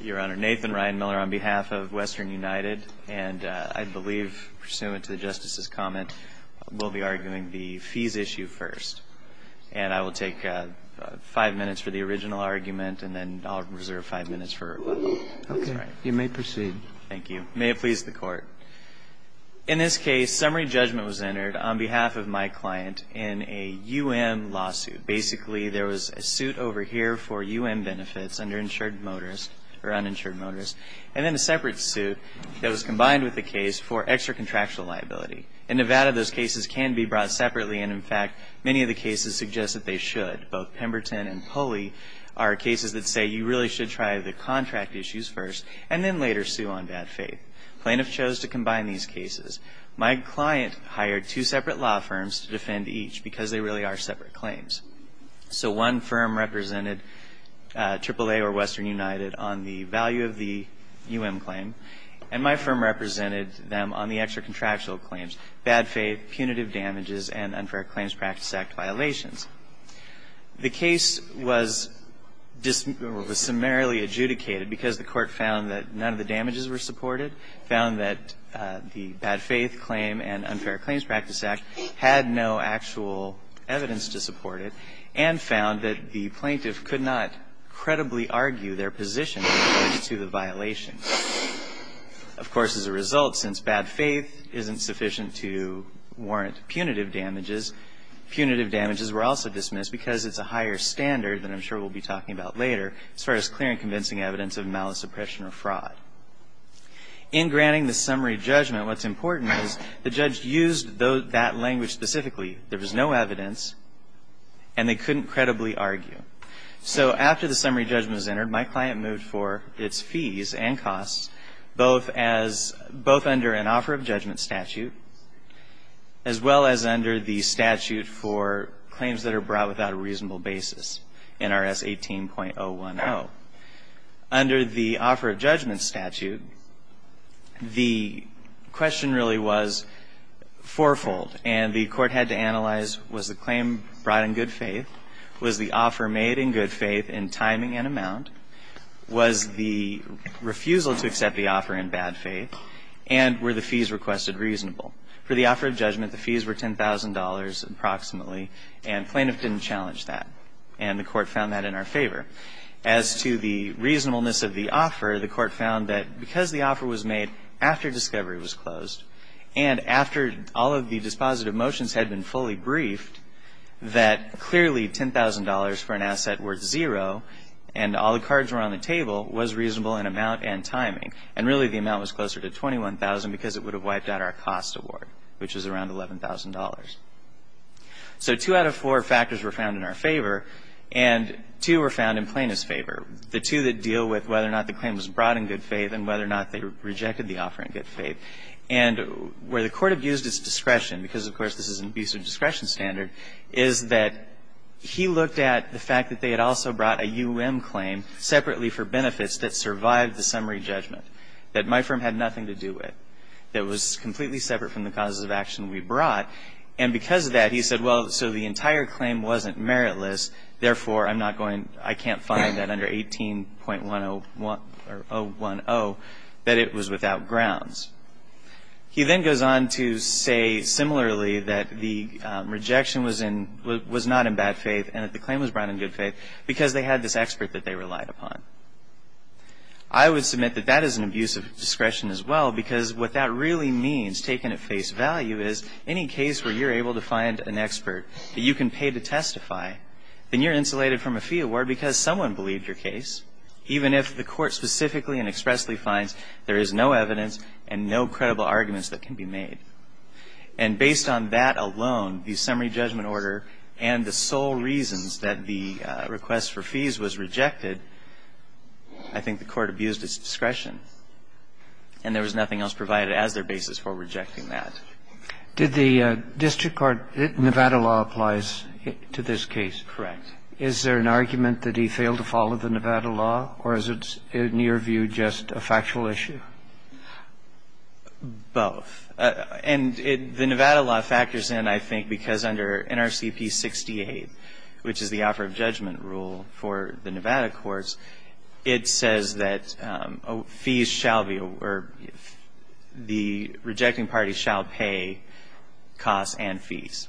Your Honor, Nathan Ryan Miller on behalf of Western United, and I believe, pursuant to the Justice's comment, we'll be arguing the fees issue first. And I will take five minutes for the original argument, and then I'll reserve five minutes for— Okay. You may proceed. Thank you. May it please the Court. In this case, summary judgment was entered on behalf of my client in a U.N. lawsuit. Basically, there was a suit over here for U.N. benefits under insured motorist, or uninsured motorist, and then a separate suit that was combined with the case for extra-contractual liability. In Nevada, those cases can be brought separately, and in fact, many of the cases suggest that they should. Both Pemberton and Pulley are cases that say you really should try the contract issues first, and then later sue on bad faith. Plaintiff chose to combine these cases. My client hired two separate law firms to defend each because they really are separate claims. So one firm represented AAA or Western United on the value of the U.N. claim, and my firm represented them on the extra-contractual claims, bad faith, punitive damages, and Unfair Claims Practice Act violations. The case was summarily adjudicated because the Court found that none of the damages were supported, found that the bad faith claim and Unfair Claims Practice Act had no actual evidence to support it, and found that the plaintiff could not credibly argue their position with regard to the violations. Of course, as a result, since bad faith isn't sufficient to warrant punitive damages, punitive damages were also dismissed because it's a higher standard than I'm sure we'll be talking about later as far as clear and convincing evidence of malice, oppression, or fraud. In granting the summary judgment, what's important is the judge used that language specifically. There was no evidence, and they couldn't credibly argue. So after the summary judgment was entered, my client moved for its fees and costs, both as — both under an offer of judgment statute, as well as under the statute for claims that are brought without a reasonable basis, NRS 18.010. Under the offer of judgment statute, the question really was fourfold. And the Court had to analyze, was the claim brought in good faith? Was the offer made in good faith in timing and amount? Was the refusal to accept the offer in bad faith? And were the fees requested reasonable? For the offer of judgment, the fees were $10,000 approximately, and plaintiff didn't challenge that. And the Court found that in our favor. As to the reasonableness of the offer, the Court found that because the offer was made after discovery was closed and after all of the dispositive motions had been fully briefed, that clearly $10,000 for an asset worth zero and all the cards were on the table was reasonable in amount and timing. And really, the amount was closer to $21,000 because it would have wiped out our cost award, which is around $11,000. So two out of four factors were found in our favor, and two were found in plaintiff's favor, the two that deal with whether or not the claim was brought in good faith and whether or not they rejected the offer in good faith. And where the Court abused its discretion, because, of course, this is an abusive discretion standard, is that he looked at the fact that they had also brought a U.M. claim separately for benefits that survived the summary judgment, that my firm had nothing to do with, that it was completely separate from the causes of action we brought. And because of that, he said, well, so the entire claim wasn't meritless. Therefore, I'm not going to – I can't find that under 18.101 or 010 that it was without grounds. He then goes on to say similarly that the rejection was in – was not in bad faith and that the claim was brought in good faith because they had this expert that they relied upon. I would submit that that is an abusive discretion as well, because what that really means, taken at face value, is any case where you're able to find an expert that you can pay to testify, then you're insulated from a fee award because someone believed your case, even if the Court specifically and expressly finds there is no evidence and no credible arguments that can be made. And based on that alone, the summary judgment order and the sole reasons that the request for fees was rejected, I think the Court abused its discretion. And there was nothing else provided as their basis for rejecting that. Did the district court – Nevada law applies to this case? Correct. Is there an argument that he failed to follow the Nevada law, or is it, in your view, just a factual issue? Both. And the Nevada law factors in, I think, because under NRCP 68, which is the offer of judgment rule for the Nevada courts, it says that fees shall be – or the rejecting party shall pay costs and fees.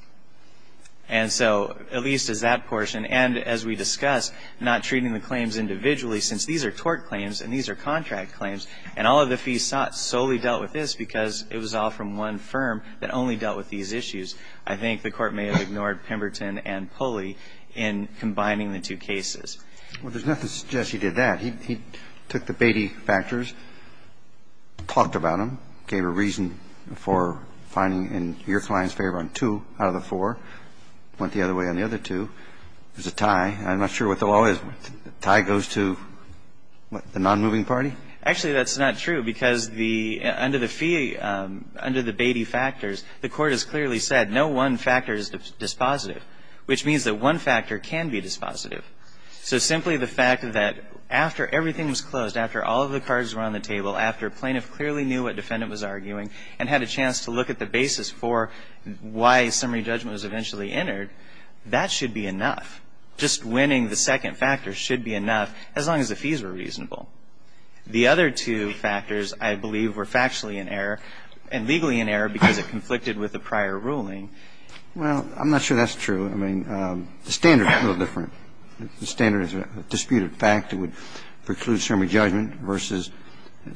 And so at least as that portion, and as we discussed, not treating the claims individually since these are tort claims and these are contract claims, and all of the fees solely dealt with this because it was all from one firm that only dealt with these issues, I think the Court may have ignored Pemberton and Pulley in combining the two cases. Well, there's nothing to suggest he did that. He took the Beatty factors, talked about them, gave a reason for finding in your client's favor on two out of the four, went the other way on the other two. There's a tie. I'm not sure what the law is. The tie goes to the nonmoving party? Actually, that's not true because under the Beatty factors, the Court has clearly said no one factor is dispositive, which means that one factor can be dispositive. So simply the fact that after everything was closed, after all of the cards were on the table, after a plaintiff clearly knew what defendant was arguing and had a chance to look at the basis for why summary judgment was eventually entered, that should be enough. Just winning the second factor should be enough as long as the fees were reasonable. The other two factors I believe were factually in error and legally in error because it conflicted with the prior ruling. Well, I'm not sure that's true. I mean, the standard is a little different. The standard is a disputed fact that would preclude summary judgment versus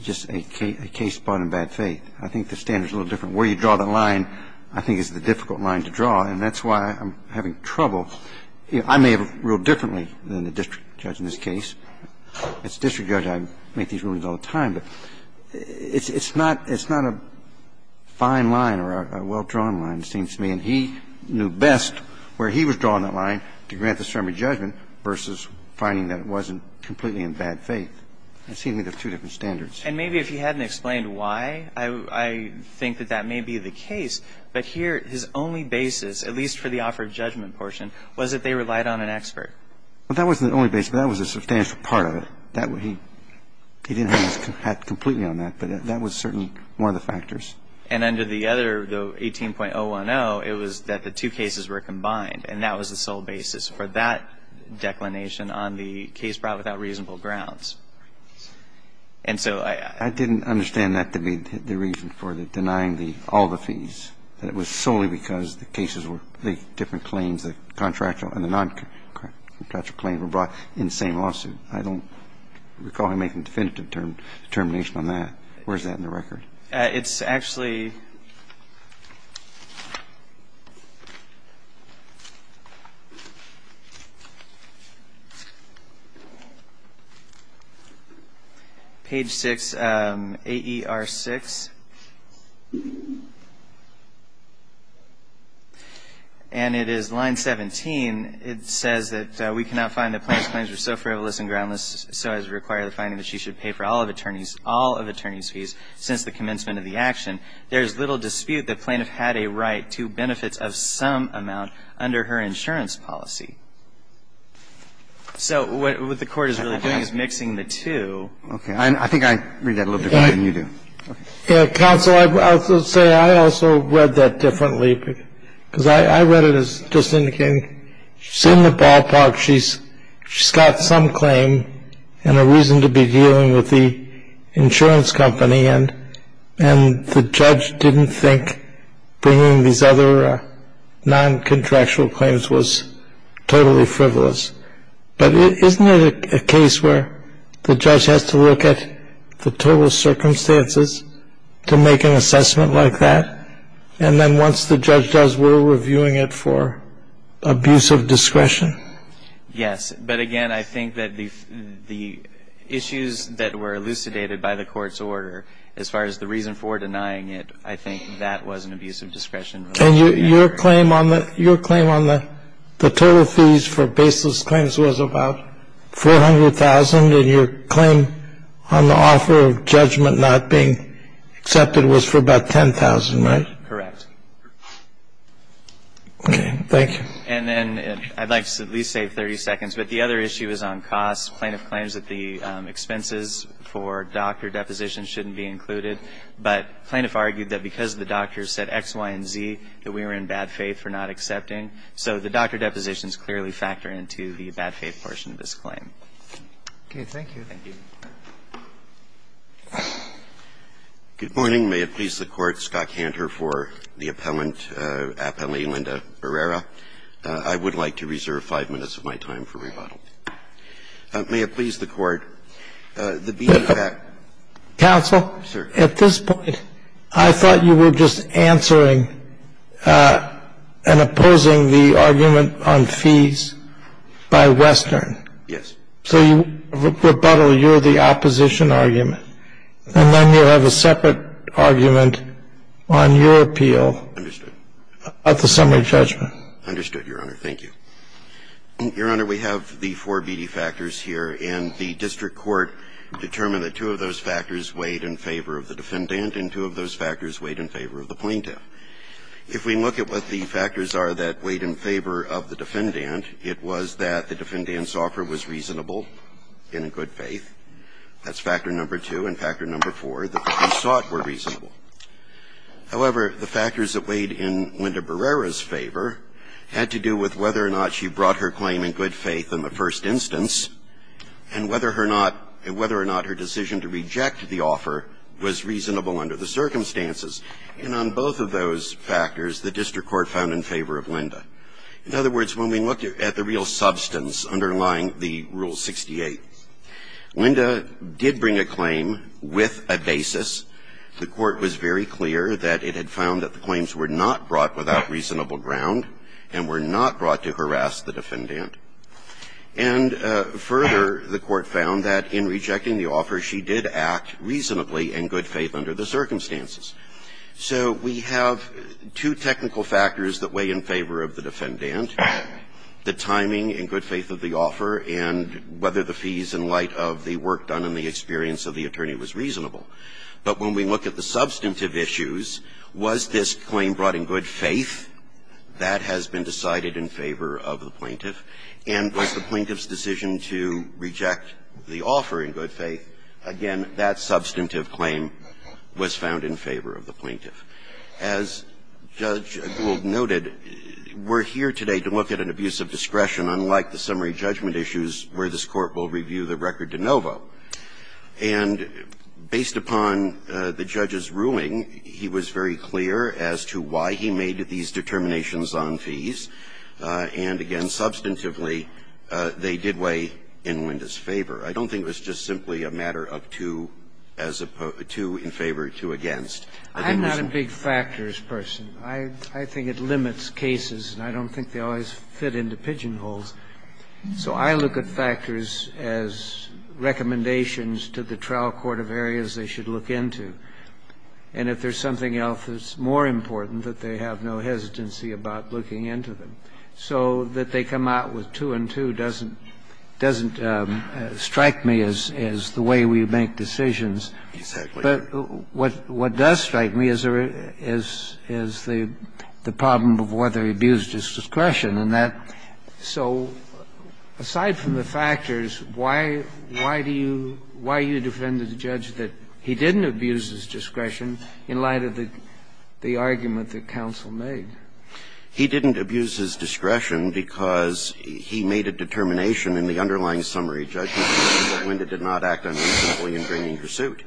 just a case brought in bad faith. I think the standard is a little different. Where you draw the line, I think, is the difficult line to draw, and that's why I'm having trouble. I may have ruled differently than the district judge in this case. As a district judge, I make these rulings all the time, but it's not a fine line or a well-drawn line, it seems to me. And he knew best where he was drawing that line to grant the summary judgment versus finding that it wasn't completely in bad faith. It seems to me there are two different standards. And maybe if he hadn't explained why, I think that that may be the case. But here, his only basis, at least for the offer of judgment portion, was that they relied on an expert. Well, that wasn't the only basis. That was a substantial part of it. He didn't have his hat completely on that, but that was certainly one of the factors. And under the other, the 18.010, it was that the two cases were combined, and that was the sole basis for that declination on the case brought without reasonable grounds. And so I didn't understand that to be the reason for denying all the fees, that it was solely because the cases were the different claims, the contractual and the noncontractual claim were brought in the same lawsuit. I don't recall him making a definitive determination on that. Where is that in the record? Page 6, AER6. And it is line 17. It says that we cannot find that plaintiff's claims were so frivolous and groundless so as to require the finding that she should pay for all of attorney's fees since the commencement of the action. There is little dispute that plaintiff had a right to benefits of some amount under her insurance policy. So what the Court is really doing is mixing the two. Okay. I think I read that a little bit better than you do. Counsel, I would say I also read that differently, because I read it as just indicating she's in the ballpark, she's got some claim and a reason to be dealing with the insurance company, and the judge didn't think bringing these other noncontractual claims was totally frivolous. But isn't it a case where the judge has to look at the total circumstances to make an assessment like that? And then once the judge does, we're reviewing it for abuse of discretion? Yes. But again, I think that the issues that were elucidated by the Court's order, as far as the reason for denying it, I think that was an abuse of discretion. And your claim on the total fees for baseless claims was about 400,000, and your claim on the offer of judgment not being accepted was for about 10,000, right? Correct. Okay. Thank you. And then I'd like to at least save 30 seconds, but the other issue is on costs. Plaintiff claims that the expenses for doctor depositions shouldn't be included, but plaintiff argued that because the doctors said X, Y, and Z, that we were in bad faith for not accepting. So the doctor depositions clearly factor into the bad faith portion of this claim. Okay. Thank you. Thank you. Good morning. May it please the Court. Scott Cantor for the appellant, Appellee Linda Herrera. I would like to reserve 5 minutes of my time for rebuttal. May it please the Court. Counsel. Sir. At this point, I thought you were just answering and opposing the argument on fees by Western. Yes. So you rebuttal, you're the opposition argument. And then you have a separate argument on your appeal. Understood. About the summary judgment. Understood, Your Honor. Thank you. Your Honor, we have the four BD factors here. And the district court determined that two of those factors weighed in favor of the defendant and two of those factors weighed in favor of the plaintiff. If we look at what the factors are that weighed in favor of the defendant, it was that the defendant's offer was reasonable and in good faith. That's factor number two. And factor number four, that the fees sought were reasonable. However, the factors that weighed in Linda Herrera's favor had to do with whether or not she brought her claim in good faith in the first instance and whether or not her decision to reject the offer was reasonable under the circumstances. And on both of those factors, the district court found in favor of Linda. In other words, when we looked at the real substance underlying the Rule 68, Linda did bring a claim with a basis. The court was very clear that it had found that the claims were not brought without reasonable ground and were not brought to harass the defendant. And further, the court found that in rejecting the offer, she did act reasonably in good faith under the circumstances. So we have two technical factors that weigh in favor of the defendant, the timing in good faith of the offer and whether the fees in light of the work done and the experience of the attorney was reasonable. But when we look at the substantive issues, was this claim brought in good faith? That has been decided in favor of the plaintiff. And was the plaintiff's decision to reject the offer in good faith? Again, that substantive claim was found in favor of the plaintiff. As Judge Gould noted, we're here today to look at an abuse of discretion unlike the summary judgment issues where this Court will review the record de novo. And based upon the judge's ruling, he was very clear as to why he made these determinations on fees, and again, substantively, they did weigh in Linda's favor. I don't think it was just simply a matter of two as opposed to in favor or two against. I'm not a big factors person. I think it limits cases, and I don't think they always fit into pigeonholes. So I look at factors as recommendations to the trial court of areas they should look into, and if there's something else that's more important, that they have no hesitancy about looking into them, so that they come out with two and two doesn't strike me as the way we make decisions. But what does strike me is the problem of whether abuse is discretion. So aside from the factors, why do you defend the judge that he didn't abuse his discretion in light of the argument that counsel made? He didn't abuse his discretion because he made a determination in the underlying summary judgment that Linda did not act unacceptably in bringing her suit.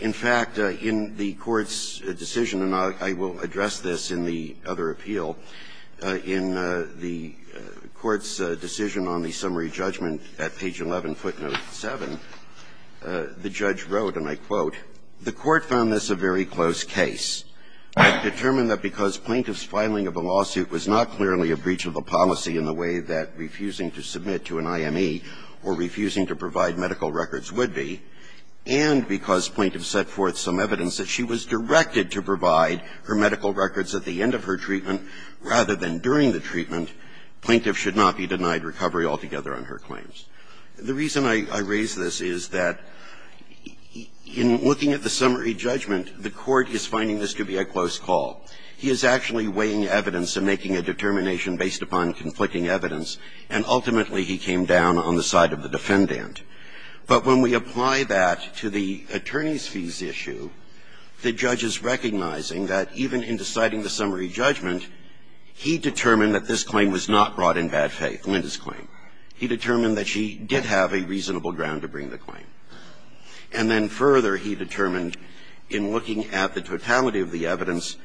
In fact, in the Court's decision, and I will address this in the other appeal, in the Court's decision on the summary judgment at page 11, footnote 7, the judge wrote, and I quote, The court found this a very close case. It determined that because plaintiff's filing of a lawsuit was not clearly a breach of a policy in the way that refusing to submit to an IME or refusing to provide medical records would be, and because plaintiff set forth some evidence that she was rather than during the treatment, plaintiff should not be denied recovery altogether on her claims. The reason I raise this is that in looking at the summary judgment, the Court is finding this to be a close call. He is actually weighing evidence and making a determination based upon conflicting evidence, and ultimately he came down on the side of the defendant. But when we apply that to the attorney's fees issue, the judge is recognizing that even in deciding the summary judgment, he determined that this claim was not brought in bad faith, Linda's claim. He determined that she did have a reasonable ground to bring the claim. And then further, he determined in looking at the totality of the evidence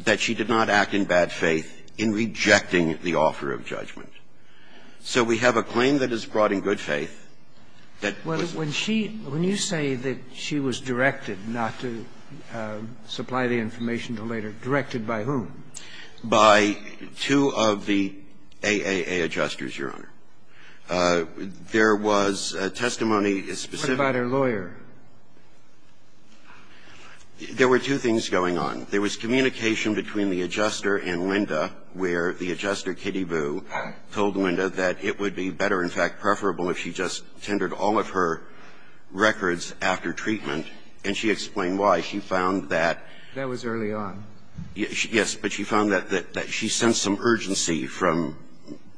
that she did not act in bad faith in rejecting the offer of judgment. So we have a claim that is brought in good faith that was not brought in bad faith. When you say that she was directed not to supply the information to Lader, directed by whom? By two of the AAA adjusters, Your Honor. There was testimony specific. What about her lawyer? There were two things going on. There was communication between the adjuster and Linda, where the adjuster, Kitty Boo, told Linda that it would be better, in fact, preferable if she just tendered all of her records after treatment, and she explained why. She found that that was early on. Yes, but she found that she sensed some urgency from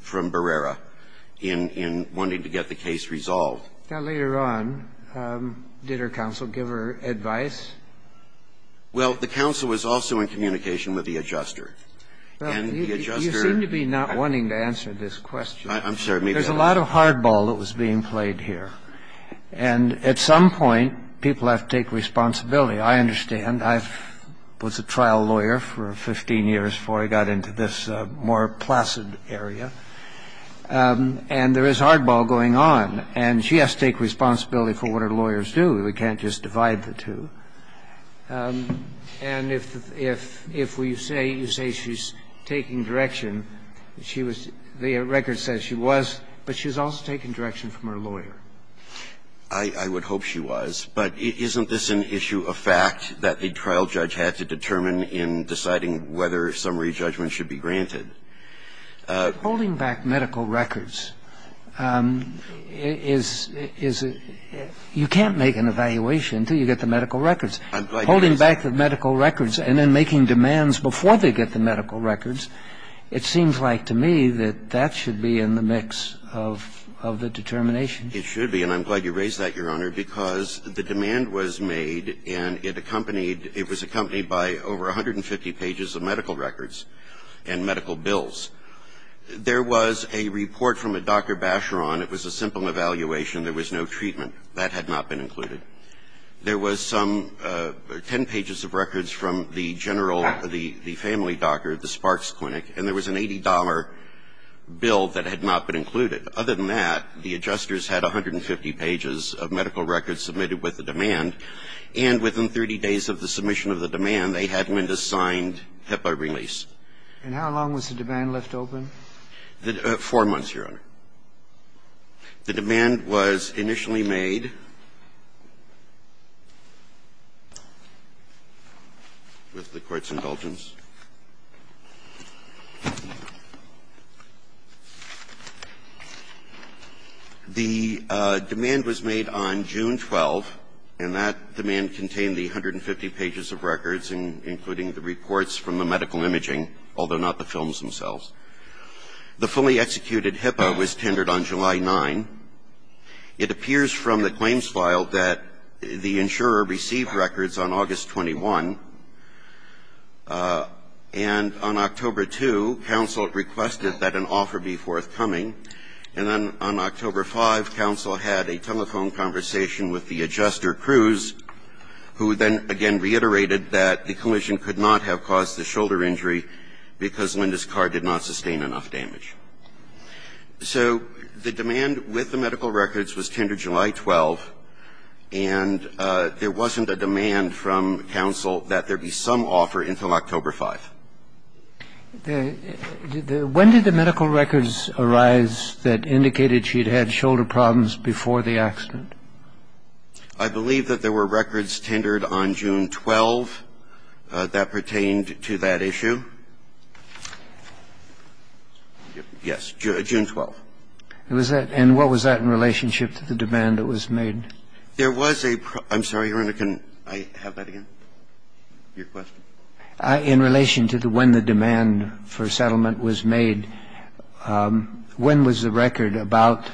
Barrera in wanting to get the case resolved. Now, later on, did her counsel give her advice? Well, the counsel was also in communication with the adjuster. And the adjuster You seem to be not wanting to answer this question. I'm sorry, maybe I was. There's a lot of hardball that was being played here. And at some point, people have to take responsibility. I understand. I was a trial lawyer for 15 years before I got into this more placid area. And there is hardball going on. And she has to take responsibility for what her lawyers do. We can't just divide the two. And if you say she's taking direction, the record says she was, but she's also taking direction from her lawyer. I would hope she was. But isn't this an issue of fact that a trial judge had to determine in deciding whether summary judgment should be granted? Holding back medical records is, you can't make an evaluation until you get the medical records. Holding back the medical records and then making demands before they get the medical records. It seems like to me that that should be in the mix of the determination. It should be. And I'm glad you raised that, Your Honor, because the demand was made, and it accompanied by over 150 pages of medical records and medical bills. There was a report from a Dr. Bacheron. It was a simple evaluation. There was no treatment. That had not been included. And there was an $80 bill that had not been included. Other than that, the adjusters had 150 pages of medical records submitted with the demand, and within 30 days of the submission of the demand, they had Mendoza signed HIPAA release. And how long was the demand left open? Four months, Your Honor. The demand was initially made, with the Court's indulgence, to allow the insurer to receive records on August 21 and on October 2. The demand was made on June 12, and that demand contained the 150 pages of records, including the reports from the medical imaging, although not the films themselves. The fully executed HIPAA was tendered on July 9. It appears from the claims file that the insurer received records on August 21, and on October 2, counsel requested that an offer be forthcoming. And then on October 5, counsel had a telephone conversation with the adjuster Cruz, who then again reiterated that the collision could not have caused the shoulder injury because Linda's car did not sustain enough damage. So the demand with the medical records was tendered July 12, and there wasn't a demand from counsel that there be some offer until October 5. When did the medical records arise that indicated she'd had shoulder problems before the accident? I believe that there were records tendered on June 12 that pertained to that issue. I'm sorry, Your Honor, can I have that again? Your question? In relation to when the demand for settlement was made, when was the record about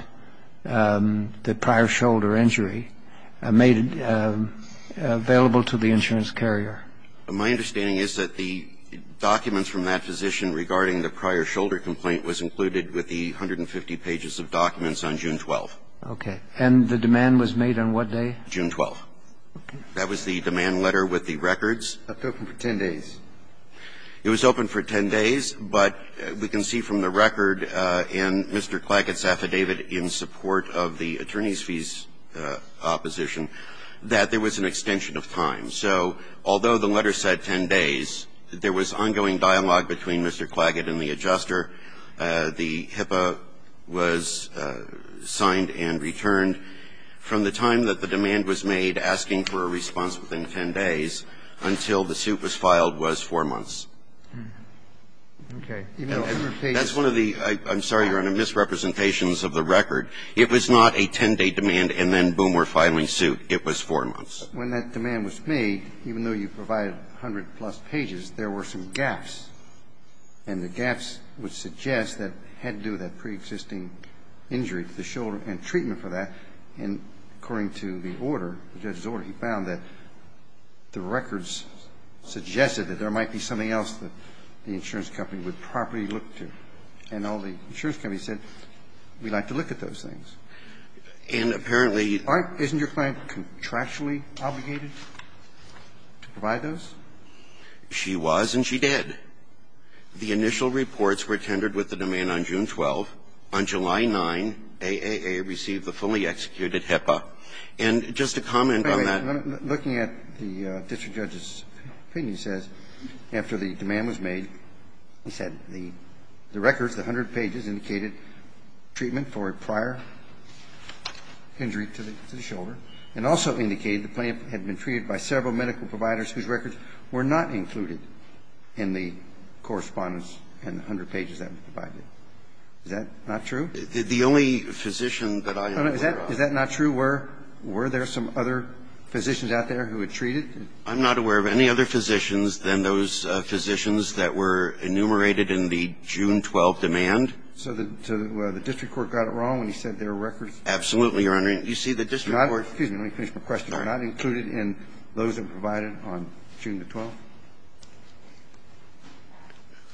the prior shoulder injury made available to the insurance carrier? The documents from that position regarding the prior shoulder complaint was included with the 150 pages of documents on June 12. Okay. And the demand was made on what day? June 12. Okay. That was the demand letter with the records. It was open for 10 days. It was open for 10 days, but we can see from the record in Mr. Clackett's affidavit in support of the attorney's fees opposition that there was an extension of time. So although the letter said 10 days, there was ongoing dialogue between Mr. Clackett and the adjuster. The HIPAA was signed and returned. From the time that the demand was made, asking for a response within 10 days, until the suit was filed was 4 months. Okay. That's one of the, I'm sorry, Your Honor, misrepresentations of the record. It was not a 10-day demand and then, boom, we're filing suit. It was 4 months. When that demand was made, even though you provided 100-plus pages, there were some gaps, and the gaps would suggest that it had to do with that preexisting injury to the shoulder and treatment for that. And according to the order, the judge's order, he found that the records suggested that there might be something else that the insurance company would properly look to. And all the insurance companies said, we'd like to look at those things. And apparently you'd Aren't, isn't your client contractually obligated to provide those? She was and she did. The initial reports were tendered with the demand on June 12. On July 9, AAA received the fully executed HIPAA. And just to comment on that Looking at the district judge's opinion, he says, after the demand was made, he said that the records, the 100 pages, indicated treatment for a prior injury to the shoulder and also indicated the plaintiff had been treated by several medical providers whose records were not included in the correspondence and the 100 pages that were provided. Is that not true? The only physician that I know of Is that not true? Were there some other physicians out there who had treated? I'm not aware of any other physicians than those physicians that were enumerated in the June 12 demand. So the district court got it wrong when he said there were records? Absolutely, Your Honor. You see, the district court Excuse me, let me finish my question. Sorry. Were not included in those that were provided on June the 12th?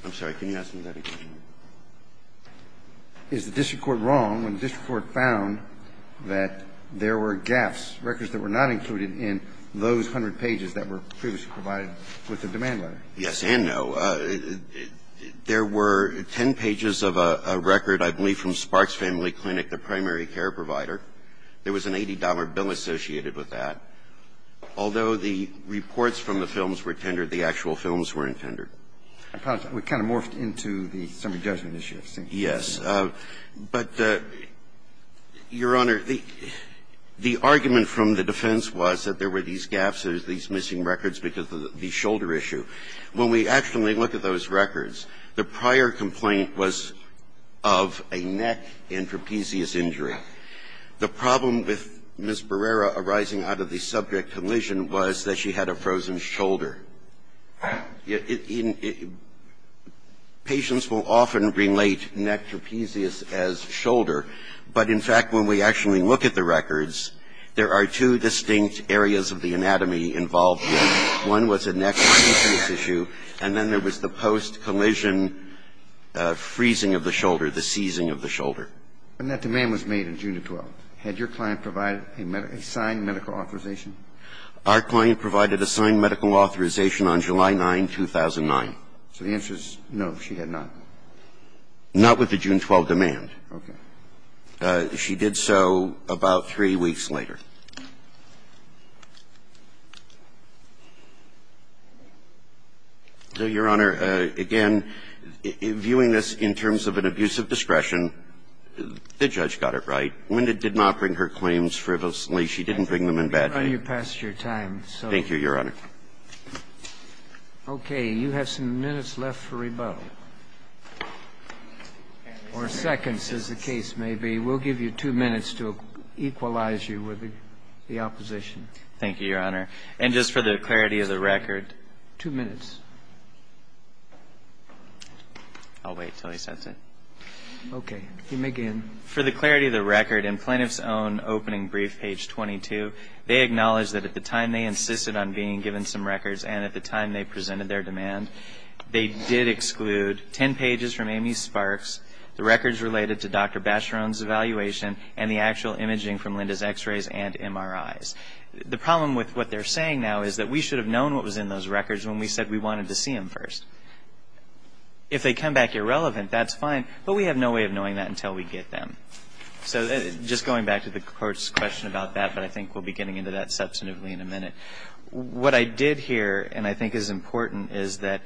I'm sorry. Can you ask me that again? Is the district court wrong when the district court found that there were gaps, records that were not included in those 100 pages that were previously provided with the demand letter? Yes and no. There were 10 pages of a record, I believe, from Sparks Family Clinic, the primary care provider. There was an $80 bill associated with that. Although the reports from the films were tendered, the actual films weren't tendered. We kind of morphed into the summary judgment issue. Yes. But, Your Honor, the argument from the defense was that there were these gaps, there were these missing records because of the shoulder issue. When we actually look at those records, the prior complaint was of a neck and trapezius injury. The problem with Ms. Barrera arising out of the subject collision was that she had a frozen shoulder. Patients will often relate neck trapezius as shoulder, but, in fact, when we actually look at the records, there are two distinct areas of the anatomy involved there. One was a neck trapezius issue, and then there was the post-collision freezing of the shoulder, the seizing of the shoulder. When that demand was made on June the 12th, had your client provided a signed medical authorization? Our client provided a signed medical authorization on July 9, 2009. So the answer is no, she had not. Not with the June 12 demand. Okay. She did so about three weeks later. So, Your Honor, again, viewing this in terms of an abuse of discretion, the judge got it right. Linda did not bring her claims frivolously. She didn't bring them in bad faith. Well, Your Honor, let's go to two minutes. I'm sorry, Your Honor, I'm running past your time. Thank you, Your Honor. Okay, you have some minutes left for rebuttal, or seconds, as the case may be. We'll give you two minutes to equalize you with the opposition. Thank you, Your Honor. And just for the clarity of the record. Two minutes. I'll wait until he sets it. Okay. You may begin. For the clarity of the record, in Plaintiff's own opening brief, page 22, they acknowledge that at the time they insisted on being given some records and at the time they presented their demand, they did exclude ten pages from Amy Sparks, the records related to Dr. Bacheron's evaluation and the actual imaging from Linda's x-rays and MRIs. The problem with what they're saying now is that we should have known what was in those records when we said we wanted to see them first. If they come back irrelevant, that's fine. But we have no way of knowing that until we get them. So just going back to the Court's question about that, but I think we'll be getting into that substantively in a minute. What I did hear, and I think is important, is that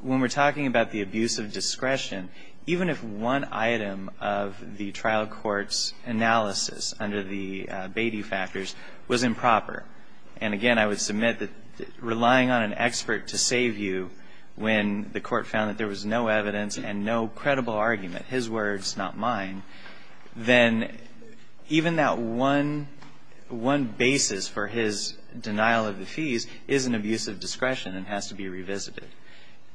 when we're talking about the abuse of discretion, even if one item of the trial court's analysis under the Beatty factors was improper, and, again, I would submit that relying on an expert to save you when the court found that there was no evidence and no credible argument, his words, not mine, then even that one basis for his denial of the fees is an abuse of discretion and has to be revisited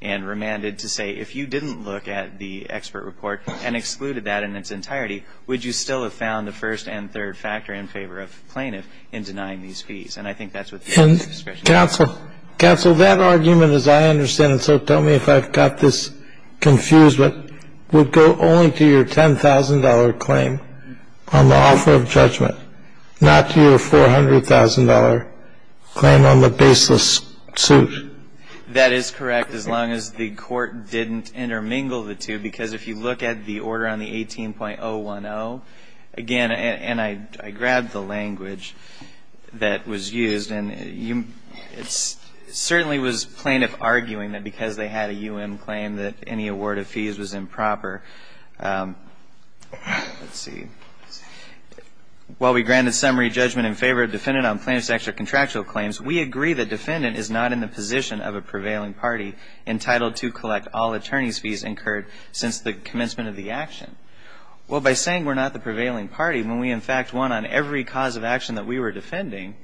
and remanded to say, if you didn't look at the expert report and excluded that in its entirety, would you still have found the first and third factor in favor of the plaintiff in denying these fees? And I think that's what the abuse of discretion is. And, counsel, counsel, that argument, as I understand it, so tell me if I've got this confused, but would go only to your $10,000 claim on the offer of judgment, not to your $400,000 claim on the baseless suit? That is correct, as long as the court didn't intermingle the two. Because if you look at the order on the 18.010, again, and I grabbed the language that was used, and it certainly was plaintiff arguing that because they had a U.M. claim that any award of fees was improper. Let's see. While we granted summary judgment in favor of defendant on claims to extra-contractual claims, we agree that defendant is not in the position of a prevailing party entitled to collect all attorney's fees incurred since the commencement of the action. Well, by saying we're not the prevailing party, when we in fact won on every cause of action that we were defending,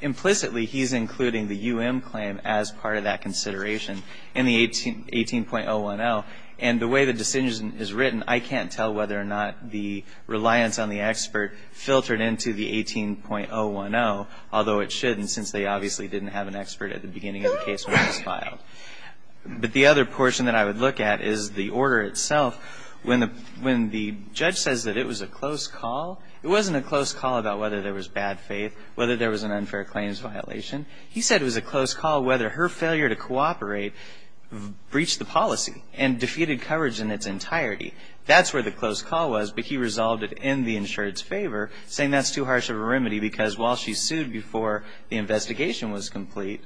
implicitly he's including the U.M. claim as part of that consideration in the 18.010. And the way the decision is written, I can't tell whether or not the reliance on the expert filtered into the 18.010, although it should, since they obviously didn't have an expert at the beginning of the case when it was filed. But the other portion that I would look at is the order itself. When the judge says that it was a close call, it wasn't a close call about whether there was bad faith, whether there was an unfair claims violation. He said it was a close call whether her failure to cooperate breached the policy. And defeated coverage in its entirety. That's where the close call was, but he resolved it in the insured's favor, saying that's too harsh of a remedy because while she sued before the investigation was complete,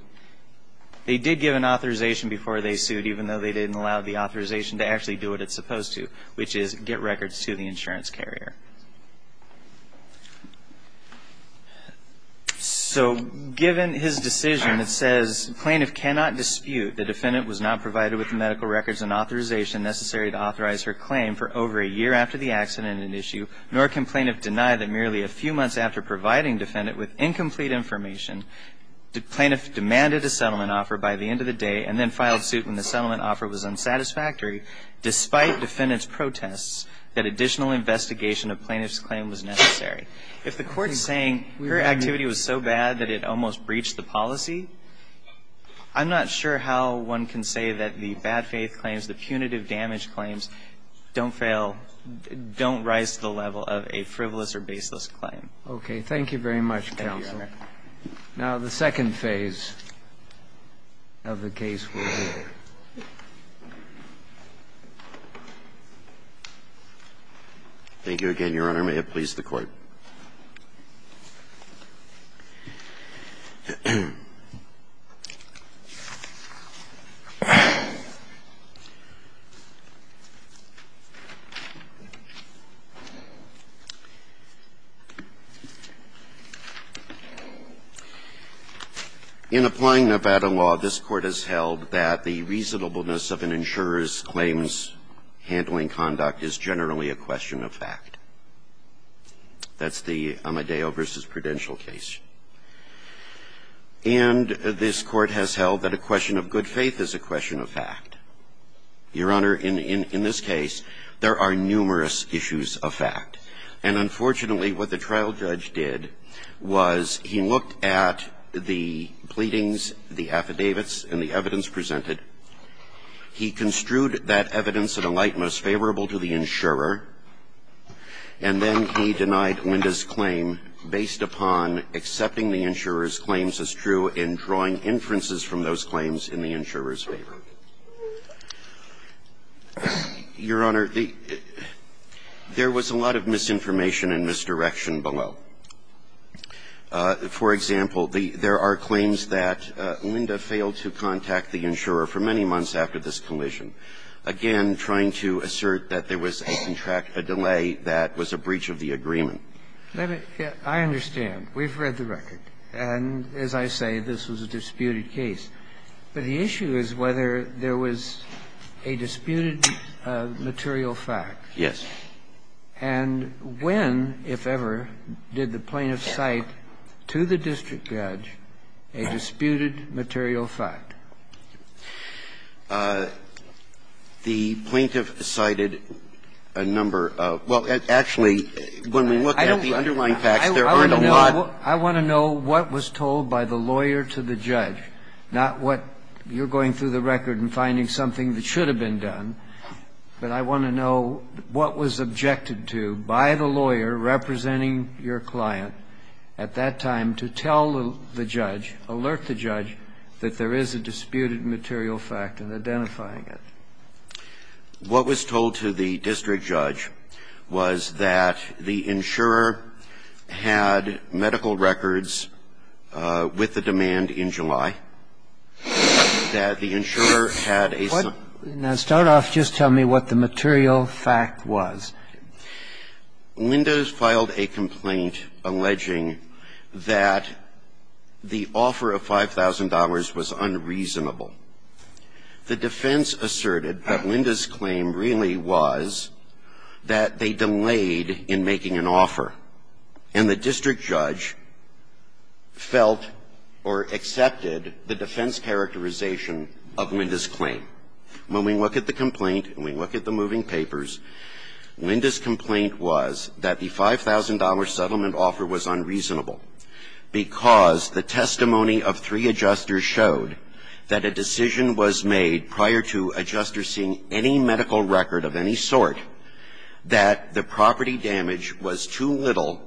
they did give an authorization before they sued, even though they didn't allow the authorization to actually do what it's supposed to, which is get records to the insurance carrier. So given his decision that says plaintiff cannot dispute the defendant was not provided with medical records and authorization necessary to authorize her claim for over a year after the accident and issue, nor can plaintiff deny that merely a few months after providing defendant with incomplete information, the plaintiff demanded a settlement offer by the end of the day and then filed suit when the settlement offer was unsatisfactory, despite defendant's protests that additional investigation of plaintiff's claim was necessary. If the Court is saying her activity was so bad that it almost breached the policy, I'm not sure how one can say that the bad faith claims, the punitive damage claims don't fail, don't rise to the level of a frivolous or baseless claim. Okay. Thank you very much, counsel. Now the second phase of the case we'll hear. Thank you again, Your Honor. May it please the Court. In applying Nevada law, this Court has held that the reasonableness of an insurer's claims handling conduct is generally a question of fact. That's the Amadeo v. Prudential case. And this Court has held that a question of good faith is a question of fact. Your Honor, in this case, there are numerous issues of fact. And unfortunately, what the trial judge did was he looked at the pleadings, the affidavits and the evidence presented. He construed that evidence in a light most favorable to the insurer. And then he denied Linda's claim based upon accepting the insurer's claims as true and drawing inferences from those claims in the insurer's favor. Your Honor, there was a lot of misinformation and misdirection below. For example, there are claims that Linda failed to contact the insurer for many months after this collision, again, trying to assert that there was a contract, a delay that was a breach of the agreement. Let me get to it. I understand. We've read the record. And as I say, this was a disputed case. But the issue is whether there was a disputed material fact. Yes. And when, if ever, did the plaintiff cite to the district judge a disputed material fact? The plaintiff cited a number of – well, actually, when we look at the underlying facts, there aren't a lot. I want to know what was told by the lawyer to the judge, not what you're going through the record and finding something that should have been done. But I want to know what was objected to by the lawyer representing your client at that time to tell the judge, alert the judge that there is a disputed material fact in identifying it. What was told to the district judge was that the insurer had medical records with the demand in July, that the insurer had a – Now, start off. Just tell me what the material fact was. Linda filed a complaint alleging that the offer of $5,000 was unreasonable. The defense asserted that Linda's claim really was that they delayed in making an offer, and the district judge felt or accepted the defense characterization of Linda's claim. When we look at the complaint and we look at the moving papers, Linda's complaint was that the $5,000 settlement offer was unreasonable because the testimony of three adjusters showed that a decision was made prior to adjuster seeing any medical record of any sort that the property damage was too little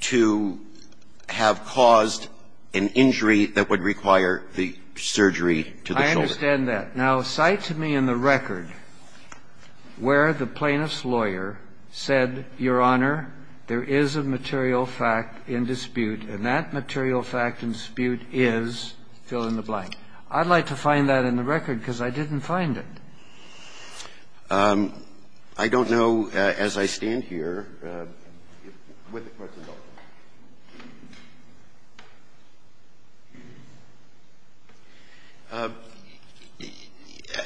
to have caused an injury that would require the surgery to the shoulder. I don't understand that. Now, cite to me in the record where the plaintiff's lawyer said, Your Honor, there is a material fact in dispute, and that material fact in dispute is fill-in-the-blank. I'd like to find that in the record because I didn't find it. I don't know, as I stand here, what the Court's involved in.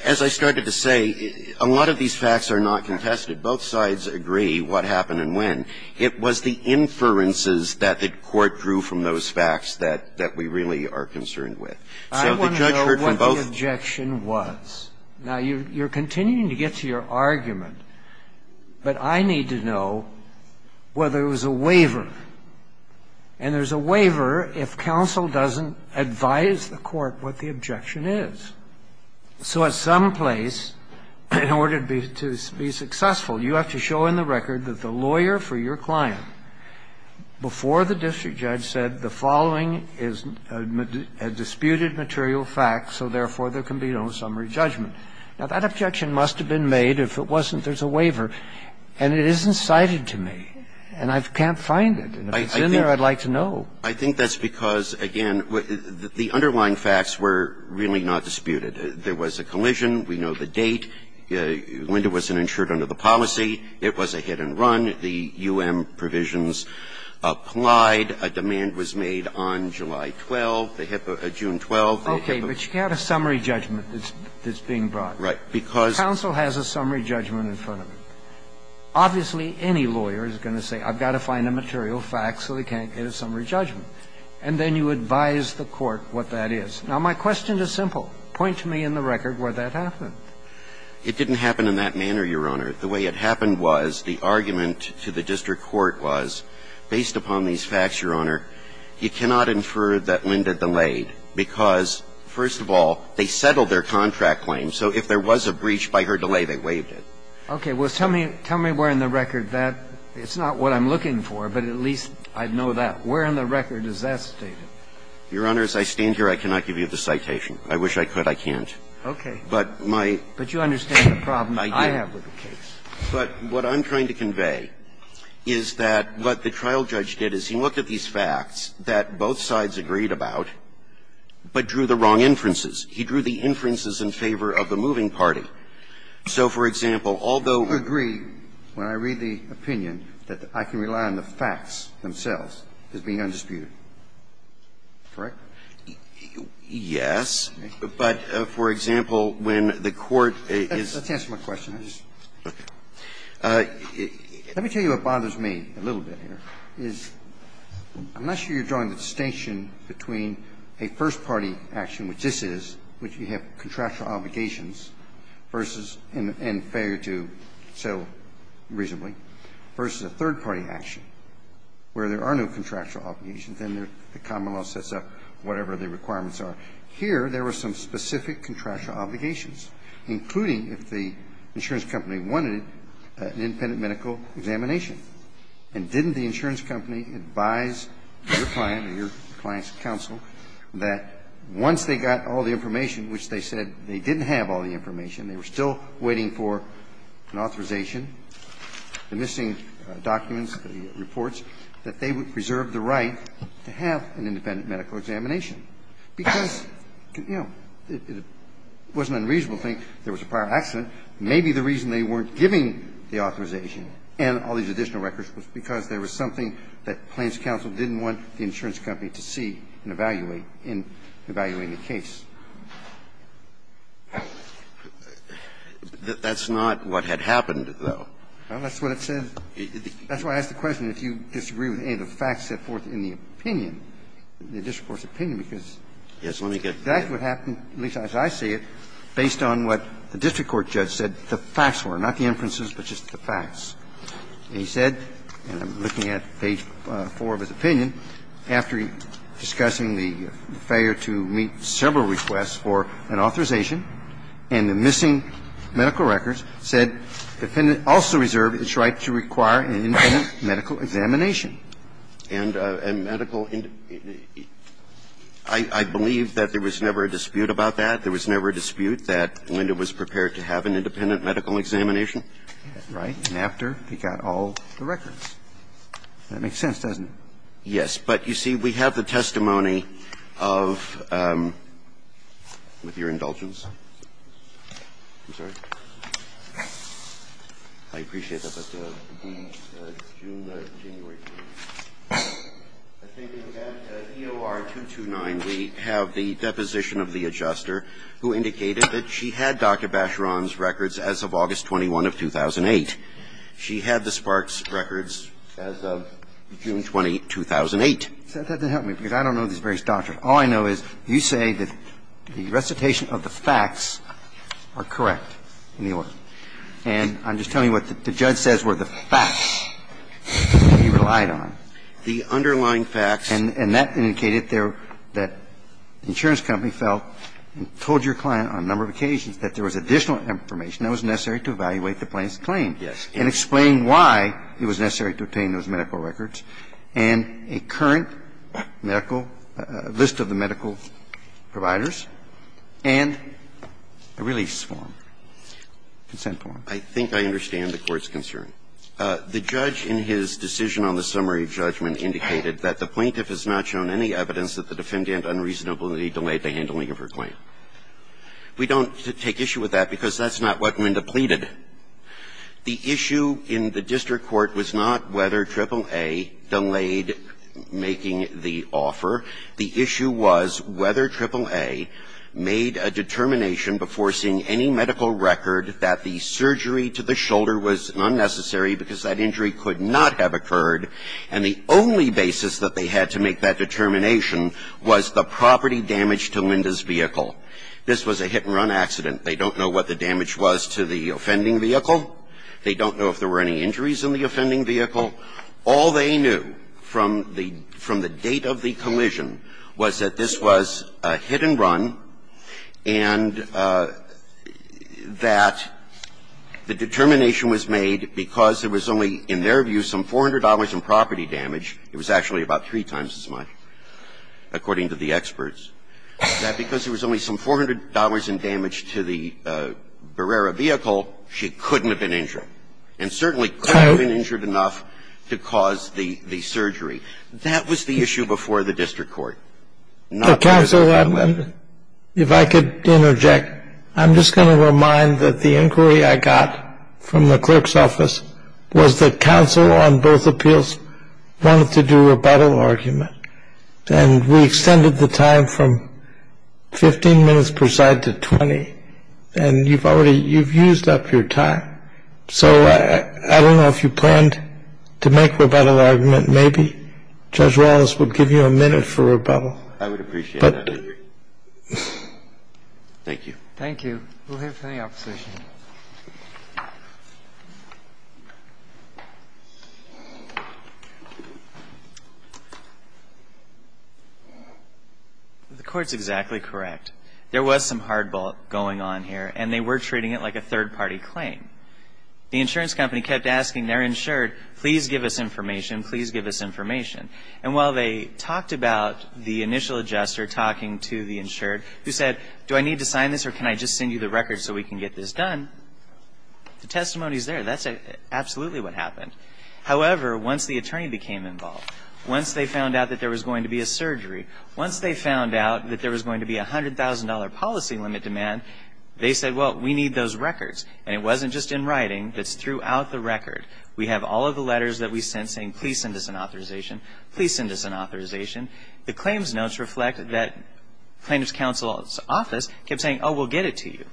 As I started to say, a lot of these facts are not contested. Both sides agree what happened and when. It was the inferences that the Court drew from those facts that we really are concerned with. So the judge heard from both sides. Now, you're continuing to get to your argument, but I need to know whether there was a waiver. And there's a waiver if counsel doesn't advise the Court what the objection is. So at some place, in order to be successful, you have to show in the record that the lawyer for your client, before the district judge, said the following is a disputed material fact, so therefore, there can be no summary judgment. Now, that objection must have been made. If it wasn't, there's a waiver, and it isn't cited to me, and I can't find it. And if it's in there, I'd like to know. I think that's because, again, the underlying facts were really not disputed. There was a collision. We know the date. Linda wasn't insured under the policy. It was a hit-and-run. The U.M. provisions applied. A demand was made on July 12th, June 12th. Okay. But you have a summary judgment that's being brought. Right. Because the counsel has a summary judgment in front of him. Obviously, any lawyer is going to say I've got to find a material fact so they can't get a summary judgment. And then you advise the Court what that is. Now, my question is simple. Point to me in the record where that happened. It didn't happen in that manner, Your Honor. The way it happened was the argument to the district court was, based upon these facts, Your Honor, you cannot infer that Linda delayed because, first of all, they settled their contract claim. So if there was a breach by her delay, they waived it. Okay. Well, tell me where in the record that – it's not what I'm looking for, but at least I'd know that. Where in the record is that stated? Your Honor, as I stand here, I cannot give you the citation. I wish I could. I can't. Okay. But my – But what I'm trying to convey is that what the trial judge did is he looked at these facts that both sides agreed about, but drew the wrong inferences. He drew the inferences in favor of the moving party. So, for example, although – I agree when I read the opinion that I can rely on the facts themselves as being undisputed. Correct? Yes. But, for example, when the Court is – Let's answer my question. Let me tell you what bothers me a little bit here, is I'm not sure you're drawing the distinction between a first-party action, which this is, which you have contractual obligations versus – and failure to settle reasonably, versus a third-party action where there are no contractual obligations and the common law sets up whatever the requirements are. Here, there were some specific contractual obligations, including if the insurance company wanted an independent medical examination. And didn't the insurance company advise your client or your client's counsel that once they got all the information, which they said they didn't have all the information, they were still waiting for an authorization, the missing documents, the reports, that they would preserve the right to have an independent medical examination? Because, you know, it was an unreasonable thing. There was a prior accident. Maybe the reason they weren't giving the authorization and all these additional records was because there was something that claims counsel didn't want the insurance company to see and evaluate in evaluating the case. That's not what had happened, though. Well, that's what it said. That's why I asked the question if you disagree with any of the facts set forth in the opinion, the district court's opinion, because that's what happened, at least as I see it, based on what the district court judge said the facts were, not the inferences, but just the facts. And he said, and I'm looking at page 4 of his opinion, after discussing the failure to meet several requests for an authorization and the missing medical records, said the defendant also reserved its right to require an independent medical examination. And medical index – I believe that there was never a dispute about that. There was never a dispute that Linda was prepared to have an independent medical examination. Right. And after, he got all the records. That makes sense, doesn't it? Yes. But, you see, we have the testimony of – with your indulgence. I'm sorry. I appreciate that, Dr. Dee. It's June or January. I think in EOR 229, we have the deposition of the adjuster who indicated that she had Dr. Bacheron's records as of August 21 of 2008. She had the Sparks records as of June 20, 2008. That doesn't help me, because I don't know these various doctors. All I know is you say that the recitation of the facts are correct. And I'm just telling you what the judge says were the facts that he relied on. The underlying facts. And that indicated that the insurance company felt and told your client on a number of occasions that there was additional information that was necessary to evaluate the plaintiff's claim and explain why it was necessary to obtain those medical records and a current medical – list of the medical providers and a release form. Consent form. I think I understand the Court's concern. The judge in his decision on the summary judgment indicated that the plaintiff has not shown any evidence that the defendant unreasonably delayed the handling of her claim. We don't take issue with that, because that's not what Linda pleaded. The issue in the district court was not whether AAA delayed making the offer. The issue was whether AAA made a determination before seeing any medical record that the surgery to the shoulder was unnecessary because that injury could not have occurred, and the only basis that they had to make that determination was the property damage to Linda's vehicle. This was a hit-and-run accident. They don't know what the damage was to the offending vehicle. They don't know if there were any injuries in the offending vehicle. All they knew from the – from the date of the collision was that this was a hit-and-run and that the determination was made because there was only, in their view, some $400 in property damage. It was actually about three times as much, according to the experts, that because there was only some $400 in damage to the Barrera vehicle, she couldn't have been injured. And certainly couldn't have been injured enough to cause the – the surgery. That was the issue before the district court. Not the reason why Linda – Counsel, if I could interject, I'm just going to remind that the inquiry I got from the clerk's office was that counsel on both appeals wanted to do a rebuttal argument, and we extended the time from 15 minutes per side to 20, and you've already – you've used up your time. So I don't know if you planned to make a rebuttal argument. Maybe Judge Wallace would give you a minute for rebuttal. I would appreciate that, I agree. Thank you. Thank you. We'll hear from the opposition. The Court's exactly correct. There was some hardball going on here, and they were treating it like a third-party claim. The insurance company kept asking their insured, please give us information, please give us information. And while they talked about the initial adjuster talking to the insured, who said, do I need to sign this or can I just send you the record so we can get this done? The testimony is there. That's absolutely what happened. However, once the attorney became involved, once they found out that there was going to be a surgery, once they found out that there was going to be a $100,000 policy limit demand, they said, well, we need those records. And it wasn't just in writing, it's throughout the record. We have all of the letters that we sent saying, please send us an authorization, please send us an authorization. The claims notes reflect that plaintiff's counsel's office kept saying, oh, we'll get it to you.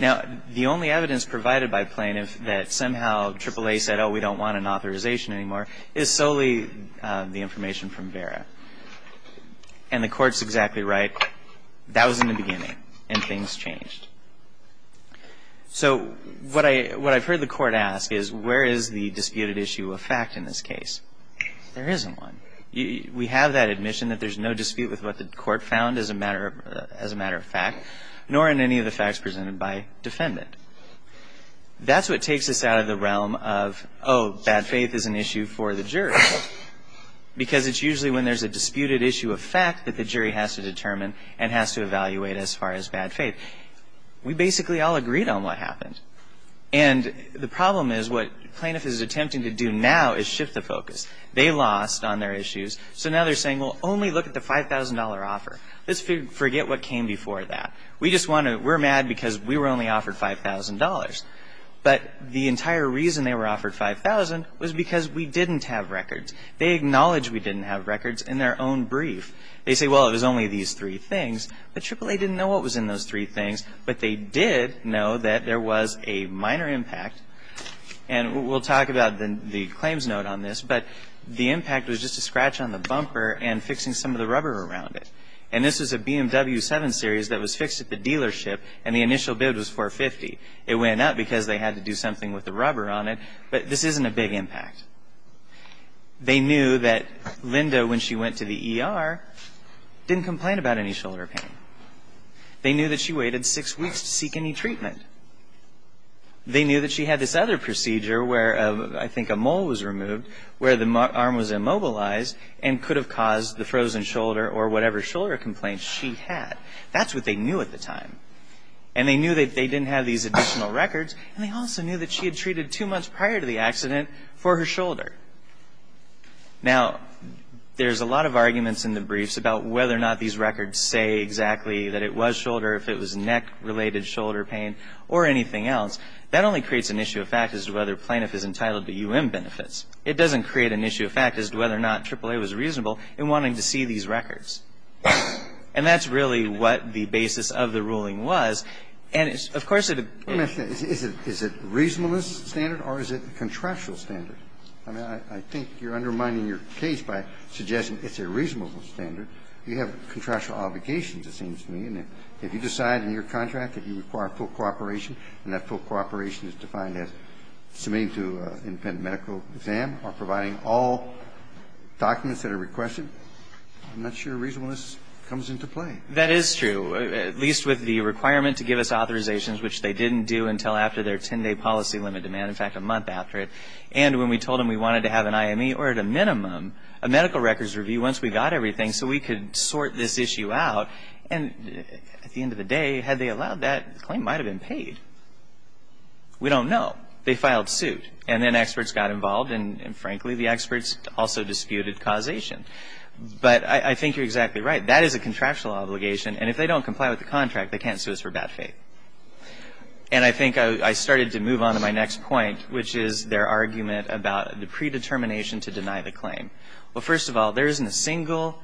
Now, the only evidence provided by plaintiff that somehow AAA said, oh, we don't want an authorization anymore, is solely the information from Vera. And the Court's exactly right. That was in the beginning, and things changed. So what I've heard the Court ask is, where is the disputed issue of fact in this case? There isn't one. We have that admission that there's no dispute with what the Court found as a matter of fact, nor in any of the facts presented by defendant. That's what takes us out of the realm of, oh, bad faith is an issue for the jury. Because it's usually when there's a disputed issue of fact that the jury has to determine and has to evaluate as far as bad faith. We basically all agreed on what happened. And the problem is, what plaintiff is attempting to do now is shift the focus. They lost on their issues. So now they're saying, well, only look at the $5,000 offer. Let's forget what came before that. We're mad because we were only offered $5,000. But the entire reason they were offered $5,000 was because we didn't have records. They acknowledged we didn't have records in their own brief. They say, well, it was only these three things. But AAA didn't know what was in those three things. But they did know that there was a minor impact. And we'll talk about the claims note on this. But the impact was just a scratch on the bumper and fixing some of the rubber around it. And this was a BMW 7 Series that was fixed at the dealership. And the initial bid was $450. It went up because they had to do something with the rubber on it. But this isn't a big impact. They knew that Linda, when she went to the ER, didn't complain about any shoulder pain. They knew that she waited six weeks to seek any treatment. They knew that she had this other procedure where I think a mole was removed, where the arm was immobilized and could have caused the frozen shoulder or whatever shoulder complaints she had. That's what they knew at the time. And they knew that they didn't have these additional records. And they also knew that she had treated two months prior to the accident for her shoulder. Now, there's a lot of arguments in the briefs about whether or not these records say exactly that it was shoulder, if it was neck-related shoulder pain, or anything else. That only creates an issue of fact as to whether plaintiff is entitled to U.M. benefits. It doesn't create an issue of fact as to whether or not AAA was reasonable in wanting to see these records. And that's really what the basis of the ruling was. And, of course, it is a reasonable standard or is it a contractual standard? I mean, I think you're undermining your case by suggesting it's a reasonable standard. You have contractual obligations, it seems to me. And if you decide in your contract that you require full cooperation and that full cooperation is defined as submitting to an independent medical exam or providing all documents that are requested, I'm not sure reasonableness comes into play. That is true, at least with the requirement to give us authorizations, which they didn't do until after their 10-day policy limit demand, in fact, a month after it. And when we told them we wanted to have an IME or, at a minimum, a medical records review once we got everything so we could sort this issue out. And at the end of the day, had they allowed that, the claim might have been paid. We don't know. They filed suit. And then experts got involved. And, frankly, the experts also disputed causation. But I think you're exactly right. That is a contractual obligation. And if they don't comply with the contract, they can't sue us for bad faith. And I think I started to move on to my next point, which is their argument about the predetermination to deny the claim. Well, first of all, there isn't a single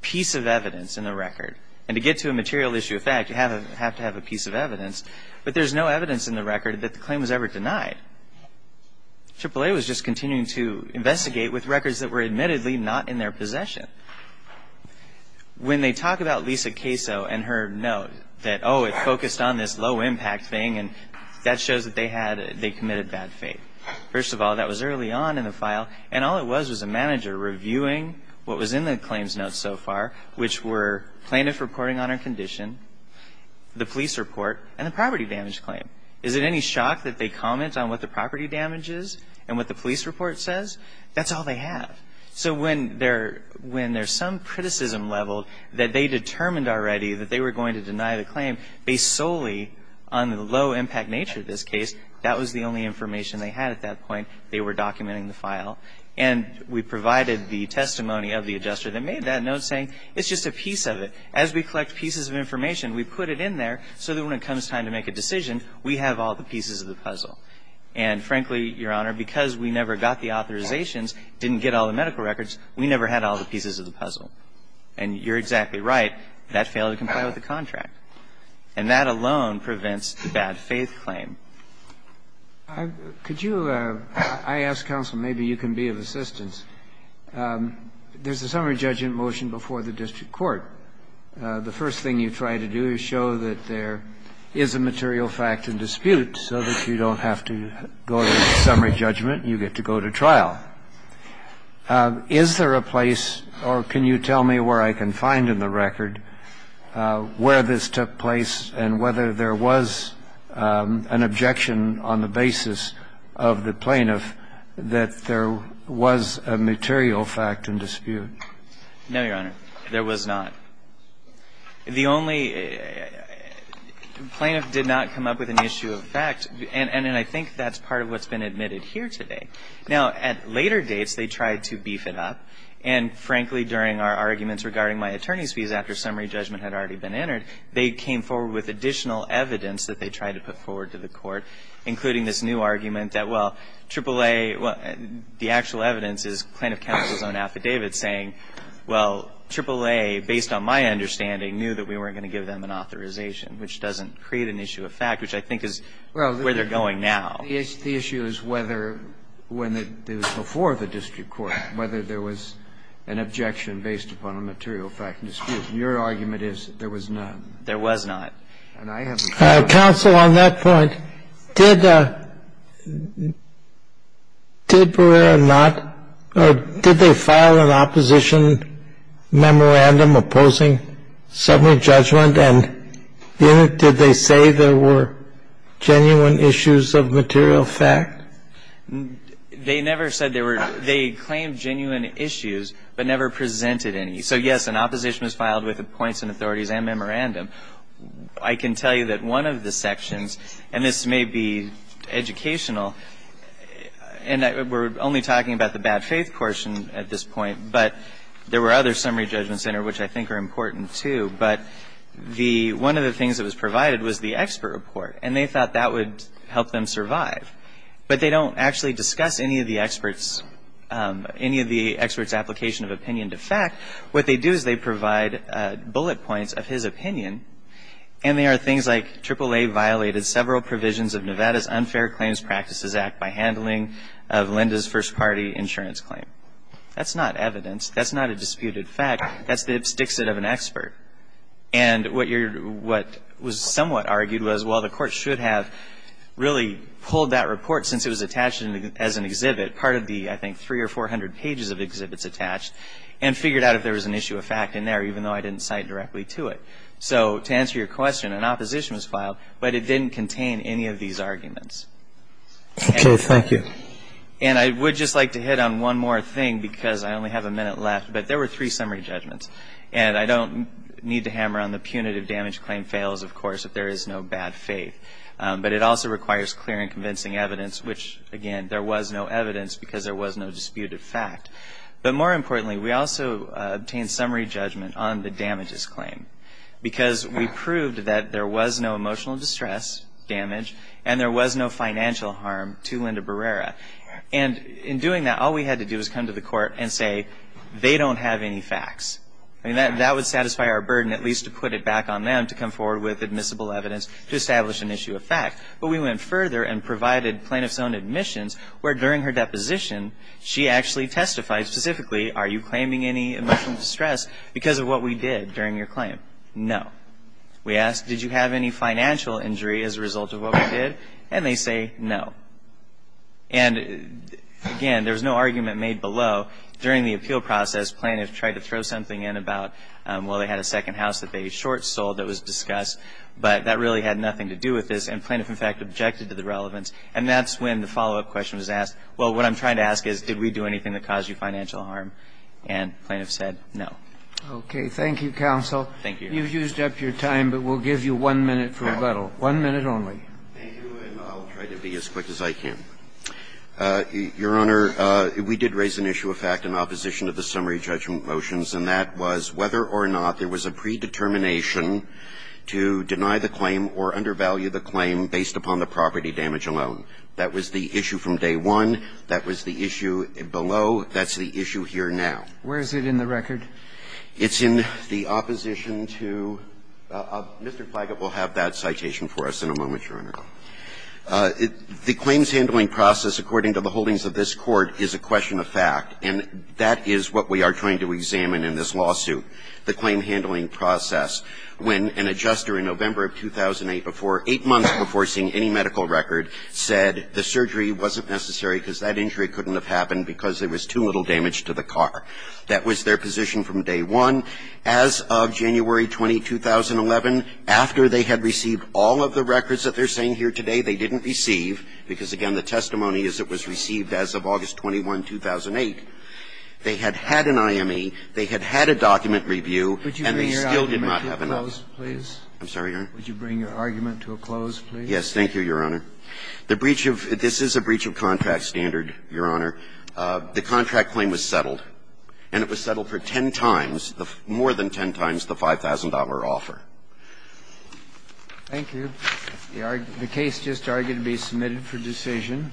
piece of evidence in the record. And to get to a material issue of fact, you have to have a piece of evidence. But there's no evidence in the record that the claim was ever denied. AAA was just continuing to investigate with records that were admittedly not in their possession. When they talk about Lisa Caso and her note that, oh, it focused on this low-impact thing, and that shows that they committed bad faith. First of all, that was early on in the file. And all it was was a manager reviewing what was in the claims note so far, which were plaintiff reporting on her condition, the police report, and the property damage claim. Is it any shock that they comment on what the property damage is and what the police report says? That's all they have. So when there's some criticism level that they determined already that they were going to deny the claim based solely on the low-impact nature of this case, that was the only information they had at that point. They were documenting the file. And we provided the testimony of the adjuster that made that note saying, it's just a piece of it. As we collect pieces of information, we put it in there so that when it comes time to make a decision, we have all the pieces of the puzzle. And, frankly, Your Honor, because we never got the authorizations, didn't get all the medical records, we never had all the pieces of the puzzle. And you're exactly right. That failed to comply with the contract. And that alone prevents the bad faith claim. Could you – I ask counsel, maybe you can be of assistance. There's a summary judgment motion before the district court. The first thing you try to do is show that there is a material fact in dispute so that you don't have to go to summary judgment, you get to go to trial. Is there a place, or can you tell me where I can find in the record, where this took place and whether there was an objection on the basis of the plaintiff that there was a material fact in dispute? No, Your Honor, there was not. The only – the plaintiff did not come up with an issue of fact, and I think that's part of what's been admitted here today. Now, at later dates, they tried to beef it up, and, frankly, during our arguments regarding my attorney's fees after summary judgment had already been entered, they came forward with additional evidence that they tried to put forward to the court, including this new argument that, well, AAA – well, the actual evidence is plaintiff counsel's own affidavit saying, well, AAA, based on my understanding, knew that we weren't going to give them an authorization, which doesn't create an issue of fact, which I think is where they're going now. The issue is whether, when it was before the district court, whether there was an objection based upon a material fact in dispute, and your argument is there was none. There was not. And I haven't found it. Counsel, on that point, did – did Barrera not – or did they file an opposition memorandum opposing summary judgment? And did they say there were genuine issues of material fact? They never said there were – they claimed genuine issues, but never presented any. So, yes, an opposition was filed with points and authorities and memorandum. I can tell you that one of the sections – and this may be educational, and we're only talking about the bad faith portion at this point, but there were other summary judgments in there, which I think are important, too. But the – one of the things that was provided was the expert report, and they thought that would help them survive. But they don't actually discuss any of the experts – any of the experts' application of opinion to fact. What they do is they provide bullet points of his opinion, and they are things like AAA violated several provisions of Nevada's Unfair Claims Practices Act by handling of Linda's first-party insurance claim. That's not evidence. That's not a disputed fact. That's the abstixit of an expert. And what you're – what was somewhat argued was, well, the Court should have really pulled that report, since it was attached as an exhibit, part of the, I think, three or four hundred pages of exhibits attached, and figured out if there was an issue of fact in there, even though I didn't cite directly to it. So to answer your question, an opposition was filed, but it didn't contain any of these arguments. And – Okay. Thank you. And I would just like to hit on one more thing, because I only have a minute left, but there were three summary judgments. And I don't need to hammer on the punitive damage claim fails, of course, if there is no bad faith. But it also requires clear and convincing evidence, which, again, there was no evidence because there was no disputed fact. But more importantly, we also obtained summary judgment on the damages claim, because we proved that there was no emotional distress damage, and there was no financial harm to Linda Barrera. And in doing that, all we had to do was come to the Court and say, they don't have any facts. I mean, that would satisfy our burden, at least to put it back on them to come forward with admissible evidence to establish an issue of fact. But we went further and provided plaintiff's own admissions, where during her deposition, she actually testified specifically, are you claiming any emotional distress because of what we did during your claim? No. We asked, did you have any financial injury as a result of what we did? And they say no. And again, there was no argument made below. During the appeal process, plaintiffs tried to throw something in about, well, they had a second house that they short sold that was discussed, but that really had nothing to do with this, and plaintiff, in fact, objected to the relevance, and that's when the follow-up question was asked, well, what I'm trying to ask is, did we do anything that caused you financial harm, and plaintiff said no. Okay. Thank you, counsel. Thank you. You've used up your time, but we'll give you one minute for rebuttal. One minute only. Thank you, and I'll try to be as quick as I can. Your Honor, we did raise an issue of fact in opposition to the summary judgment motions, and that was whether or not there was a predetermination to deny the claim or undervalue the claim based upon the property damage alone. That was the issue from day one. That was the issue below. That's the issue here now. Where is it in the record? It's in the opposition to Mr. Plaggett will have that citation for us in a moment, Your Honor. The claims handling process, according to the holdings of this Court, is a question of fact, and that is what we are trying to examine in this lawsuit, the claim handling process. When an adjuster in November of 2008, before 8 months before seeing any medical record, said the surgery wasn't necessary because that injury couldn't have happened because there was too little damage to the car, that was their position from day one. As of January 20, 2011, after they had received all of the records that they're saying here today they didn't receive, because, again, the testimony is it was received as of August 21, 2008, they had had an IME, they had had a document review, and they that would have been ordered up. And there still did not have an IME. Would you bring your argument to a close? Yes, thank you, Your Honor. This is a breach of contrast standard, Your Honor. The contract claim was settled, and it was settled for ten times, more than ten times the $5,000 offer. Thank you. The case just argued to be submitted for decision.